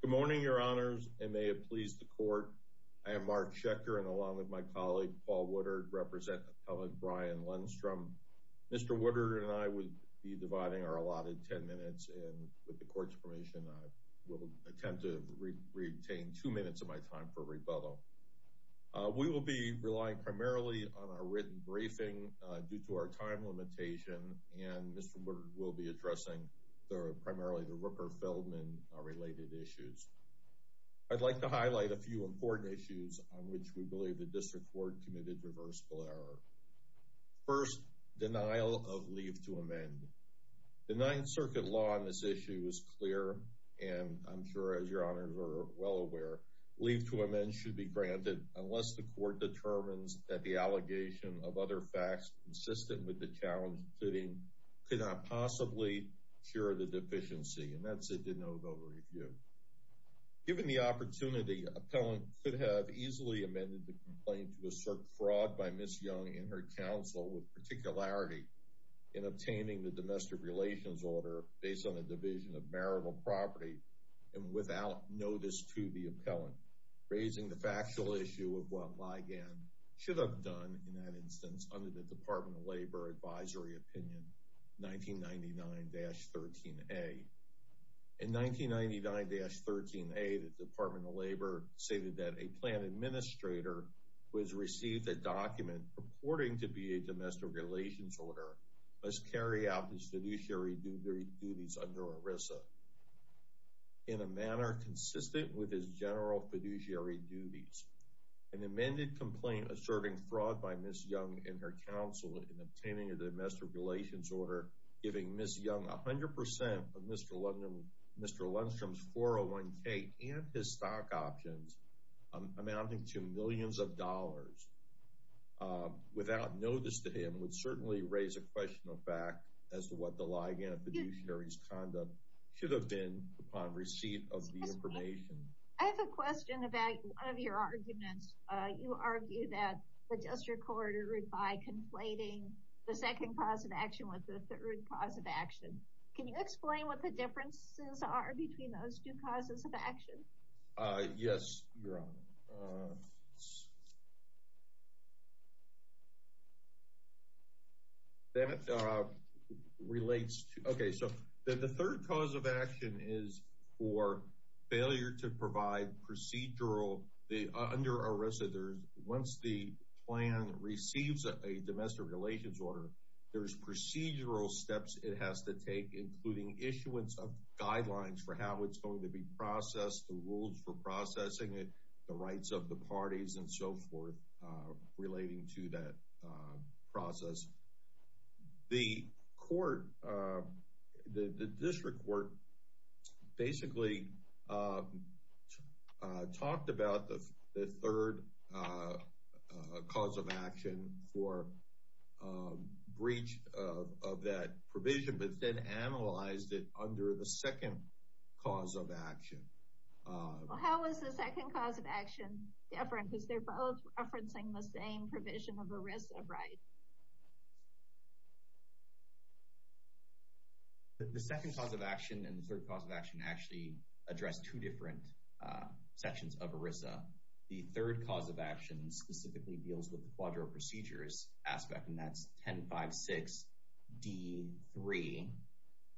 Good morning, Your Honors, and may it please the Court, I am Mark Schechter and along with my colleague, Paul Woodard, represent Appellant Brian Lundstrom. Mr. Woodard and I will be dividing our allotted ten minutes, and with the Court's permission, I will attempt to retain two minutes of my time for rebuttal. We will be relying primarily on our written briefing due to our time limitation, and Mr. Woodard will be addressing primarily the Rooker-Feldman related issues. I'd like to highlight a few important issues on which we believe the District Court committed reversible error. First, denial of leave to amend. The Ninth Circuit law on this issue is clear, and I'm sure as Your Honors are well aware, leave to amend should be granted unless the Court determines that the allegation of other facts consistent with the challenge, including could not possibly cure the deficiency. Given the opportunity, an appellant could have easily amended the complaint to assert fraud by Ms. Young and her counsel with particularity in obtaining the domestic relations order based on a division of marital property and without notice to the appellant, raising the factual issue of what Ligon should have done in that instance under the Department of Labor Advisory Opinion 1999-13A. In 1999-13A, the Department of Labor stated that a plan administrator who has received a document purporting to be a domestic relations order must carry out the judiciary duties under ERISA. In a manner consistent with his general fiduciary duties, an amended complaint asserting fraud by Ms. Young and her counsel in obtaining a domestic relations order, giving Ms. Young 100% of Mr. Lundstrom's 401k and his stock options amounting to millions of dollars without notice to him, would certainly raise a question of fact as to what the Ligon fiduciary's conduct should have been upon receipt of the information. I have a question about one of your arguments. You argue that the District Court erred by conflating the second cause of action with the third cause of action. Can you explain what the differences are between those two causes of action? Yes, Your Honor. That relates to... Okay, so the third cause of action is for failure to provide procedural... Under ERISA, once the plan receives a domestic relations order, there's procedural steps it has to take, including issuance of guidelines for how it's going to be processed, the rules for processing it, the rights of the parties and so forth, relating to that process. The court, the District Court, basically talked about the third cause of action for breach of that provision, but then analyzed it under the second cause of action. Well, how is the second cause of action different, because they're both referencing the same provision of ERISA, right? The second cause of action and the third cause of action actually address two different sections of ERISA. The third cause of action specifically deals with the quadro procedures aspect, and that's 10-5-6-D-3.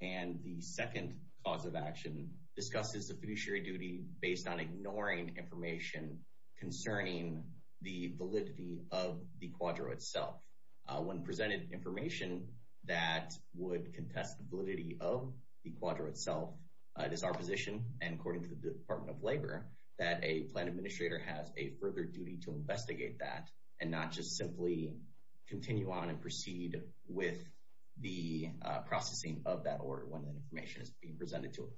And the second cause of action discusses the fiduciary duty based on ignoring information concerning the validity of the quadro itself. When presented information that would contest the validity of the quadro itself, it is our position, and according to the Department of Labor, that a plan administrator has a further duty to investigate that, and not just simply continue on and proceed with the processing of that order when that information is being presented to it.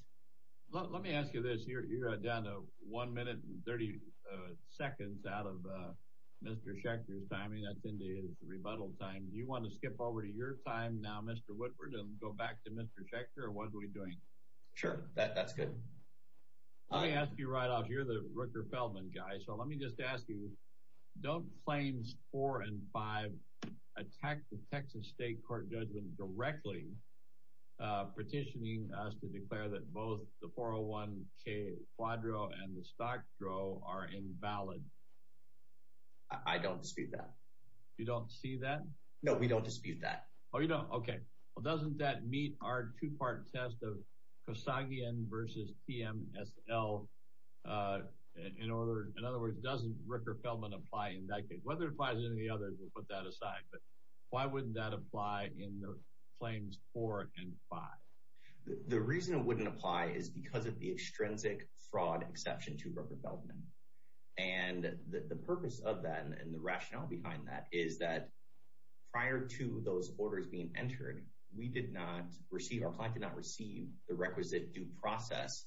Let me ask you this. You're down to 1 minute and 30 seconds out of Mr. Schechter's timing. That's in his rebuttal time. Do you want to skip over to your time now, Mr. Whitford, and go back to Mr. Schechter, or what are we doing? Sure, that's good. Let me ask you right off. You're the Rooker-Feldman guy, so let me just ask you. Don't claims 4 and 5 attack the Texas state court judgment directly, petitioning us to declare that both the 401k quadro and the stock draw are invalid? I don't dispute that. You don't see that? No, we don't dispute that. Oh, you don't? Okay. Well, doesn't that meet our two-part test of Kosagian versus TMSL? In other words, doesn't Rooker-Feldman apply in that case? Whether it applies in any other, we'll put that aside. But why wouldn't that apply in the claims 4 and 5? The reason it wouldn't apply is because of the extrinsic fraud exception to Rooker-Feldman. And the purpose of that and the rationale behind that is that prior to those orders being entered, we did not receive, our client did not receive the requisite due process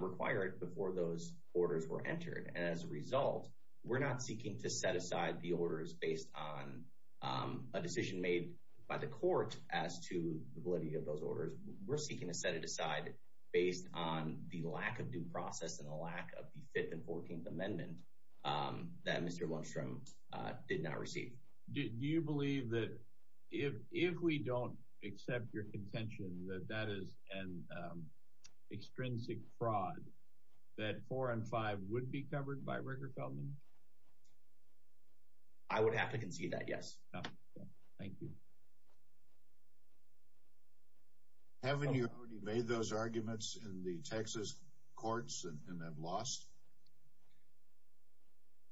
required before those orders were entered. And as a result, we're not seeking to set aside the orders based on a decision made by the court as to validity of those orders. We're seeking to set it aside based on the lack of due process and the lack of the 5th and 14th Amendment that Mr. Munstrom did not receive. Do you believe that if we don't accept your contention that that is an extrinsic fraud, that 4 and 5 would be covered by Rooker-Feldman? I would have to concede that, yes. Thank you. Haven't you already made those arguments in the Texas courts and have lost?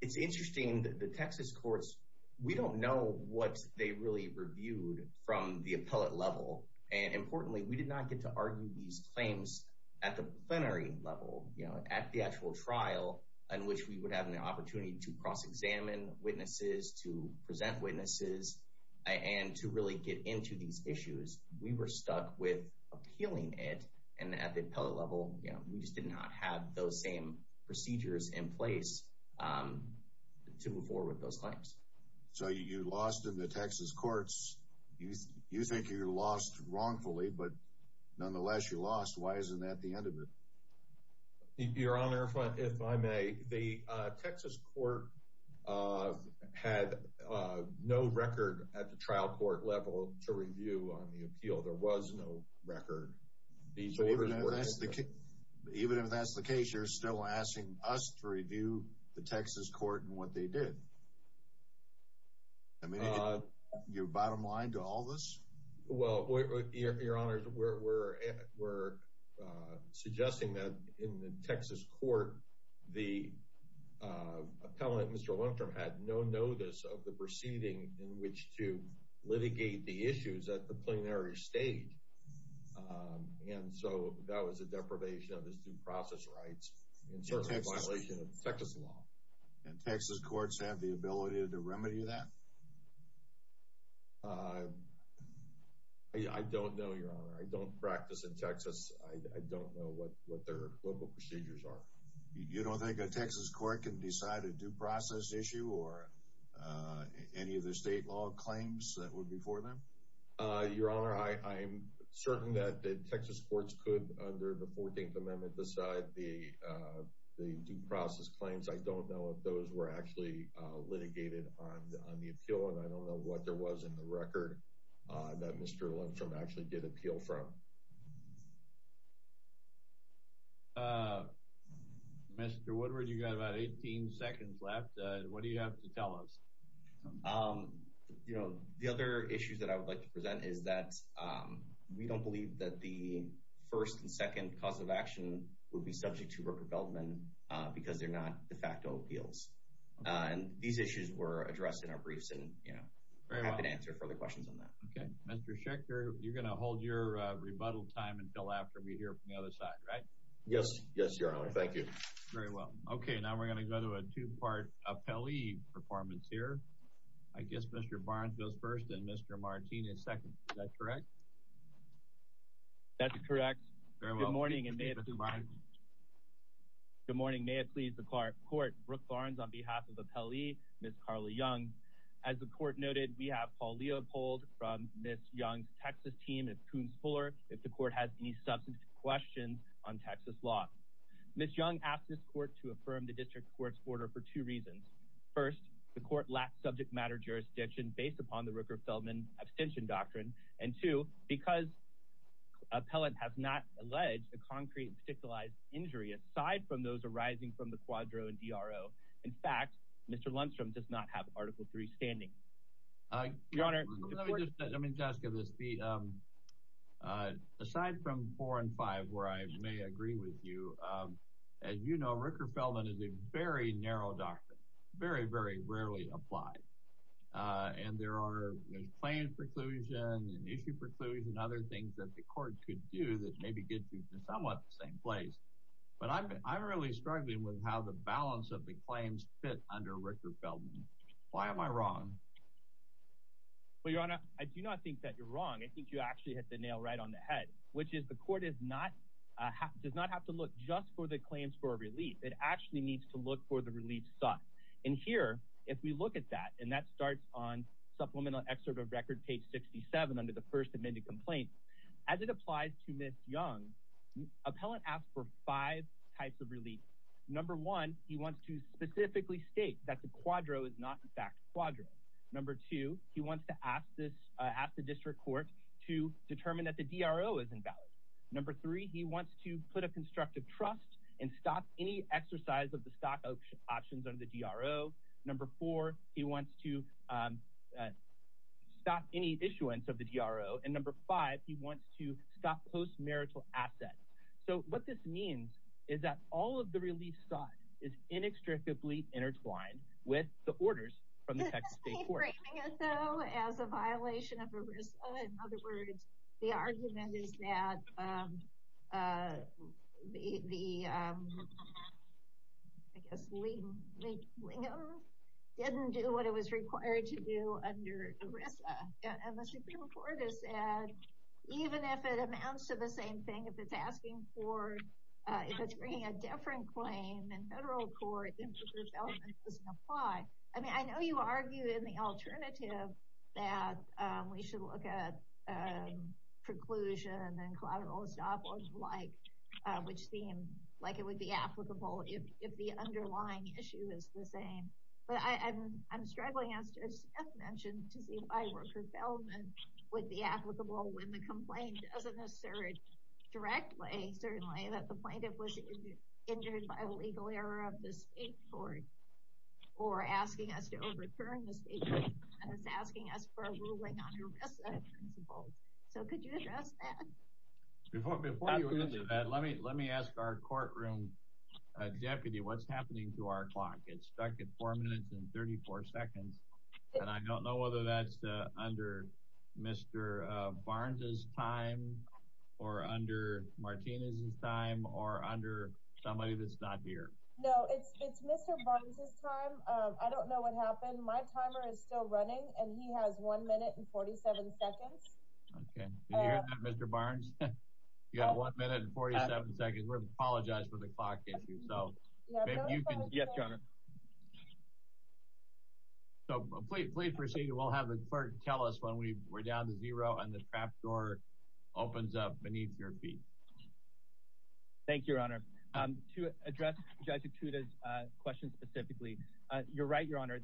It's interesting that the Texas courts, we don't know what they really reviewed from the appellate level. And importantly, we did not get to argue these claims at the plenary level, you know, at the actual trial in which we would have an opportunity to cross-examine witnesses, to present witnesses, and to really get into these issues. We were stuck with appealing it, and at the appellate level, you know, we just did not have those same procedures in place to move forward with those claims. So you lost in the Texas courts. You think you lost wrongfully, but nonetheless, you lost. Why isn't that the end of it? Your Honor, if I may, the Texas court had no record at the trial court level to review on the appeal. There was no record. So even if that's the case, you're still asking us to review the Texas court and what they did? I mean, you're bottom line to all this? Well, Your Honor, we're suggesting that in the Texas court, the appellate, Mr. Lundstrom, had no notice of the proceeding in which to litigate the issues at the plenary stage. And so that was a deprivation of his due process rights, and certainly a violation of Texas law. And Texas courts have the ability to remedy that? I don't know, Your Honor. I don't practice in Texas. I don't know what their local procedures are. You don't think a Texas court can decide a due process issue or any of the state law claims that would be for them? Your Honor, I'm certain that the Texas courts could, under the 14th Amendment, decide the due process claims. I don't know if those were actually litigated on the appeal, and I don't know what there was in the record that Mr. Lundstrom actually did appeal from. Mr. Woodward, you've got about 18 seconds left. What do you have to tell us? You know, the other issues that I would like to present is that we don't believe that the first and second cause of action would be subject to repropelment because they're not de facto appeals. And these issues were addressed in our briefs, and I'm happy to answer further questions on that. Okay. Mr. Schechter, you're going to hold your rebuttal time until after we hear from the other side, right? Yes, Your Honor. Thank you. Very well. Okay, now we're going to go to a two-part appellee performance here. I guess Mr. Barnes goes first and Mr. Martinez second. Is that correct? That's correct. Good morning, and may it please the court. Brooke Barnes on behalf of the appellee, Ms. Carly Young. As the court noted, we have Paul Leopold from Ms. Young's Texas team and Coons Fuller. If the court has any substantive questions on Texas law. Ms. Young asked this court to affirm the district court's order for two reasons. First, the court lacks subject matter jurisdiction based upon the Rooker-Feldman abstention doctrine. And two, because appellant has not alleged a concrete and particularized injury aside from those arising from the quadro and DRO. In fact, Mr. Lundstrom does not have Article III standing. Your Honor, let me just ask you this. Aside from four and five where I may agree with you, as you know, Rooker-Feldman is a very narrow doctrine. Very, very rarely applied. And there are claims preclusion and issue preclusion and other things that the court could do that maybe get you to somewhat the same place. But I'm really struggling with how the balance of the claims fit under Rooker-Feldman. Why am I wrong? Well, Your Honor, I do not think that you're wrong. I think you actually hit the nail right on the head, which is the court does not have to look just for the claims for relief. It actually needs to look for the relief sought. And here, if we look at that, and that starts on supplemental excerpt of record page 67 under the first amended complaint. As it applies to Ms. Young, appellant asked for five types of relief. Number one, he wants to specifically state that the quadro is not in fact quadro. Number two, he wants to ask the district court to determine that the DRO is invalid. Number three, he wants to put a constructive trust and stop any exercise of the stock options under the DRO. Number four, he wants to stop any issuance of the DRO. And number five, he wants to stop post-marital assets. So, what this means is that all of the relief sought is inextricably intertwined with the orders from the Texas State Court. Is he framing it, though, as a violation of ERISA? In other words, the argument is that the, I guess, Lingo didn't do what it was required to do under ERISA. And the Supreme Court has said, even if it amounts to the same thing, if it's asking for, if it's bringing a different claim in federal court, then the development doesn't apply. I mean, I know you argue in the alternative that we should look at preclusion and collateral estoppel and the like, which seem like it would be applicable if the underlying issue is the same. But I'm struggling, as Jeff mentioned, to see if Iwerker-Beldman would be applicable when the complaint doesn't assert directly, certainly, that the plaintiff was injured by legal error of the state court or asking us to overturn the state court and is asking us for a ruling on ERISA principles. So, could you address that? Before you answer that, let me ask our courtroom deputy what's happening to our clock. It's stuck at 4 minutes and 34 seconds. And I don't know whether that's under Mr. Barnes's time or under Martinez's time or under somebody that's not here. No, it's Mr. Barnes's time. I don't know what happened. My timer is still running, and he has 1 minute and 47 seconds. Can you hear that, Mr. Barnes? You have 1 minute and 47 seconds. We apologize for the clock issue. Yes, Your Honor. So, please proceed. We'll have the clerk tell us when we're down to zero and the trap door opens up beneath your feet. Thank you, Your Honor.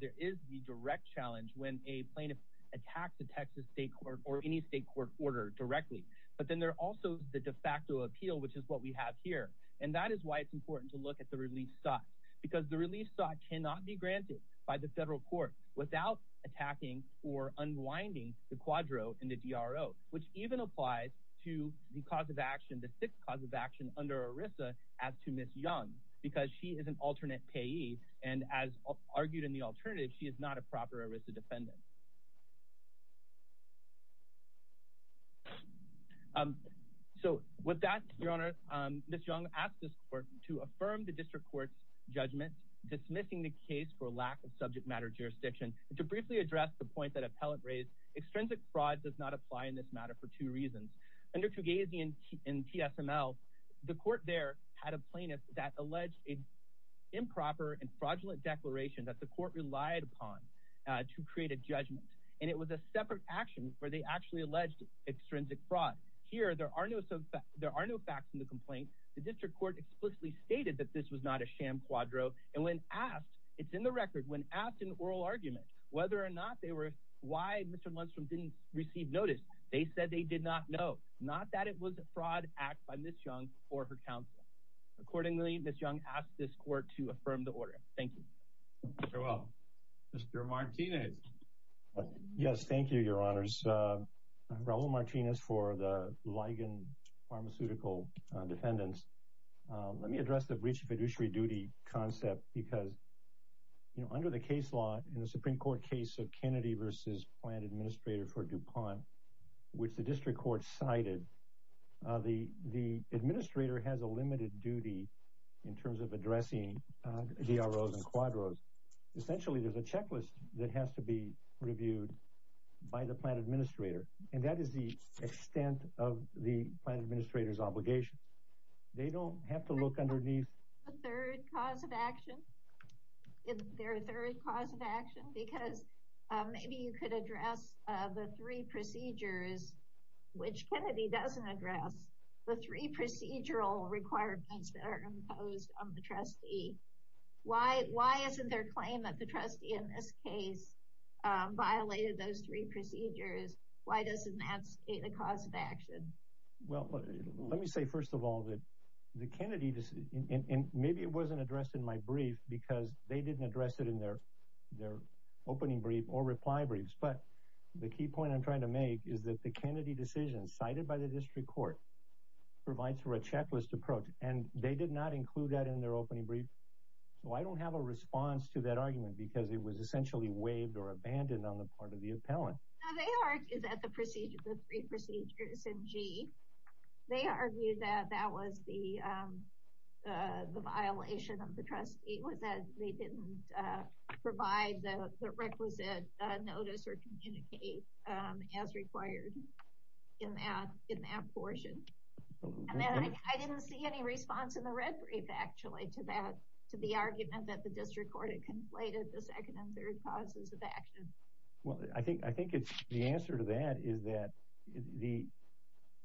There is the direct challenge when a plaintiff attacks a Texas state court or any state court order directly. But then there also is the de facto appeal, which is what we have here. And that is why it's important to look at the release sought. Because the release sought cannot be granted by the federal court without attacking or unwinding the quadro and the DRO, which even applies to the cause of action, the sixth cause of action under ERISA as to Ms. Young, because she is an alternate payee, and as argued in the alternative, she is not a proper ERISA defendant. So, with that, Your Honor, Ms. Young asked this court to affirm the district court's judgment, dismissing the case for lack of subject matter jurisdiction, and to briefly address the point that appellate raised. Extrinsic fraud does not apply in this matter for two reasons. Under Trugasi and T.S.M.L., the court there had a plaintiff that alleged an improper and fraudulent declaration that the court relied upon to create a judgment. And it was a separate action where they actually alleged extrinsic fraud. Here, there are no facts in the complaint. The district court explicitly stated that this was not a sham quadro. And when asked, it's in the record, when asked in oral argument whether or not they were, why Mr. Munstrom didn't receive notice, they said they did not know. Not that it was a fraud act by Ms. Young or her counsel. Accordingly, Ms. Young asked this court to affirm the order. Thank you. Very well. Mr. Martinez. Yes, thank you, Your Honors. Raul Martinez for the Ligon Pharmaceutical Defendants. Let me address the breach of fiduciary duty concept because, you know, under the case law in the Supreme Court case of Kennedy v. Plant Administrator for DuPont, which the district court cited, the administrator has a limited duty in terms of addressing DROs and quadros. Essentially, there's a checklist that has to be reviewed by the plant administrator. And that is the extent of the plant administrator's obligation. They don't have to look underneath. Is there a third cause of action? Is there a third cause of action? Because maybe you could address the three procedures, which Kennedy doesn't address, the three procedural requirements that are imposed on the trustee. Why isn't their claim that the trustee in this case violated those three procedures, why doesn't that state a cause of action? Well, let me say, first of all, that the Kennedy decision, and maybe it wasn't addressed in my brief because they didn't address it in their opening brief or reply briefs. But the key point I'm trying to make is that the Kennedy decision cited by the district court provides for a checklist approach. And they did not include that in their opening brief. So I don't have a response to that argument because it was essentially waived or abandoned on the part of the appellant. They argue that the procedure, the three procedures in G, they argue that that was the violation of the trustee, was that they didn't provide the requisite notice or communicate as required in that portion. I didn't see any response in the red brief, actually, to the argument that the district court had conflated the second and third causes of action. Well, I think the answer to that is that the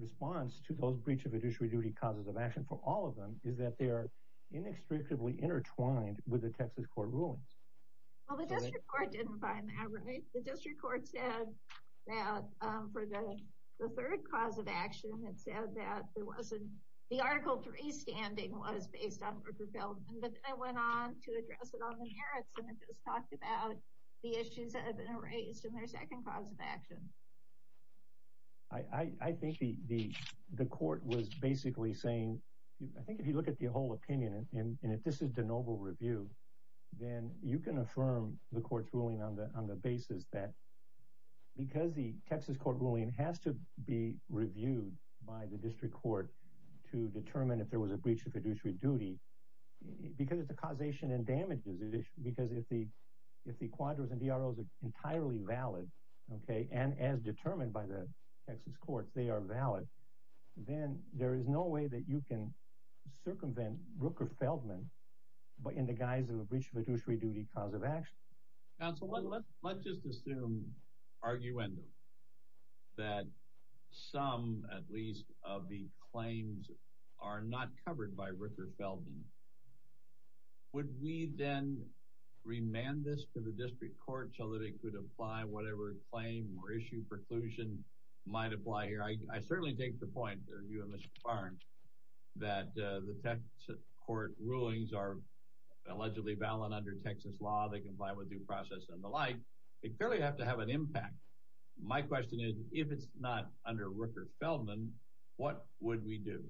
response to those breach of fiduciary duty causes of action, for all of them, is that they are inextricably intertwined with the Texas court rulings. Well, the district court didn't find that, right? The district court said that for the third cause of action, it said that the Article III standing was based on Rupert Feldman. But they went on to address it on the merits, and it just talked about the issues that have been raised in their second cause of action. I think the court was basically saying, I think if you look at the whole opinion, and if this is de novo review, then you can affirm the court's ruling on the basis that because the Texas court ruling has to be reviewed by the district court to determine if there was a breach of fiduciary duty, because of the causation and damages, because if the quadros and DROs are entirely valid, and as determined by the Texas courts, they are valid, then there is no way that you can circumvent Rupert Feldman in the guise of a breach of fiduciary duty cause of action. Councilman, let's just assume, arguendum, that some, at least, of the claims are not covered by Rupert Feldman. Would we then remand this to the district court so that it could apply whatever claim or issue preclusion might apply here? I certainly take the point that you and Mr. Barnes, that the Texas court rulings are allegedly valid under Texas law. They comply with due process and the like. They clearly have to have an impact. My question is, if it's not under Rupert Feldman, what would we do?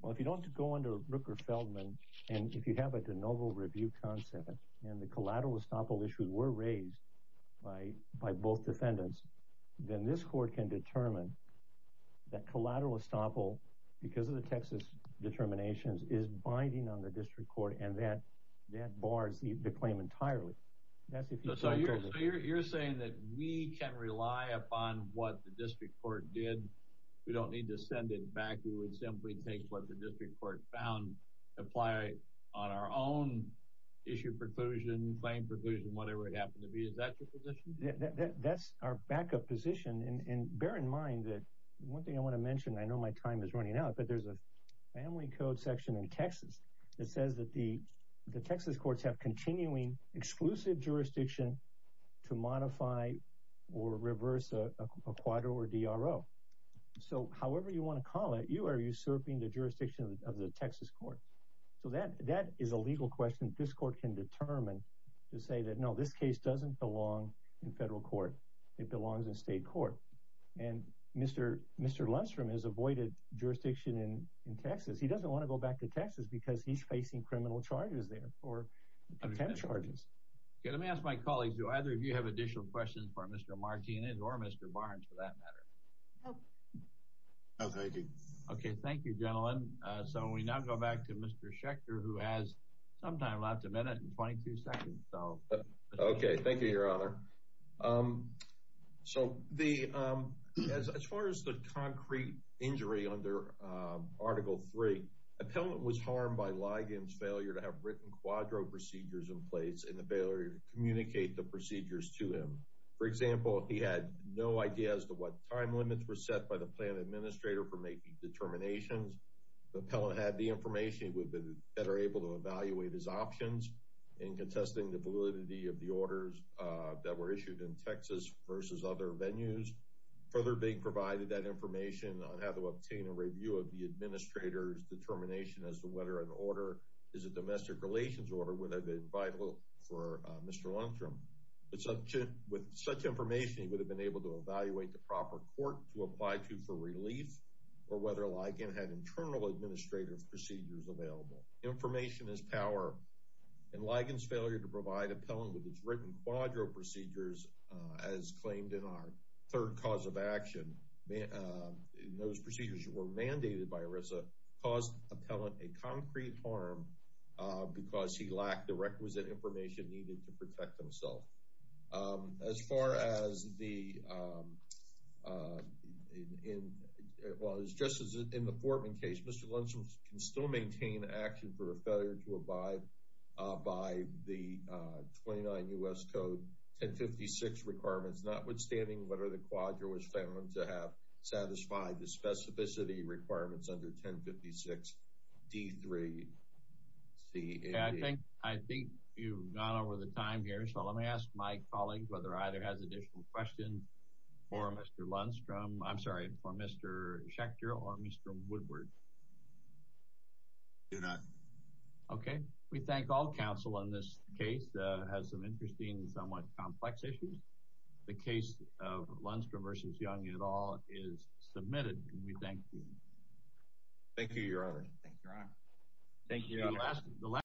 Well, if you don't go under Rupert Feldman, and if you have a de novo review concept, and the collateral estoppel issues were raised by both defendants, then this court can determine that collateral estoppel, because of the Texas determinations, is binding on the district court, and that bars the claim entirely. So you're saying that we can rely upon what the district court did. We don't need to send it back. We would simply take what the district court found, apply it on our own issue preclusion, claim preclusion, whatever it happened to be. Is that your position? That's our backup position. And bear in mind that one thing I want to mention, I know my time is running out, but there's a family code section in Texas that says that the Texas courts have continuing exclusive jurisdiction to modify or reverse a quadro or DRO. So however you want to call it, you are usurping the jurisdiction of the Texas court. So that is a legal question this court can determine, to say that no, this case doesn't belong in federal court. It belongs in state court. And Mr. Lundstrom has avoided jurisdiction in Texas. He doesn't want to go back to Texas because he's facing criminal charges there or contempt charges. Okay, let me ask my colleagues, do either of you have additional questions for Mr. Martinez or Mr. Barnes, for that matter? No. No, thank you. Okay, thank you, gentlemen. So we now go back to Mr. Schechter, Okay, thank you, Your Honor. So as far as the concrete injury under Article 3, appellant was harmed by Ligon's failure to have written quadro procedures in place and the failure to communicate the procedures to him. For example, he had no idea as to what time limits were set by the plan administrator for making determinations. The appellant had the information that are able to evaluate his options in contesting the validity of the orders that were issued in Texas versus other venues. Further being provided that information on how to obtain a review of the administrator's determination as to whether an order is a domestic relations order would have been vital for Mr. Lundstrom. With such information, he would have been able to evaluate the proper court to apply to for relief or whether Ligon had internal administrative procedures available. Information is power. And Ligon's failure to provide appellant with his written quadro procedures, as claimed in our third cause of action, in those procedures that were mandated by ERISA, caused appellant a concrete harm because he lacked the requisite information needed to protect himself. As far as the, well, just as in the Fortman case, Mr. Lundstrom can still maintain action for a failure to abide by the 29 U.S. Code 1056 requirements, notwithstanding whether the quadro was found to have satisfied the specificity requirements under 1056 D3 C.A.B. I think you've gone over the time here. So let me ask my colleague whether either has additional questions for Mr. Lundstrom. I'm sorry, for Mr. Schechter or Mr. Woodward. Do not. Okay. We thank all counsel on this case. It has some interesting, somewhat complex issues. The case of Lundstrom versus Young et al. is submitted and we thank you. Thank you, Your Honor. Thank you, Your Honor. Thank you, Your Honor.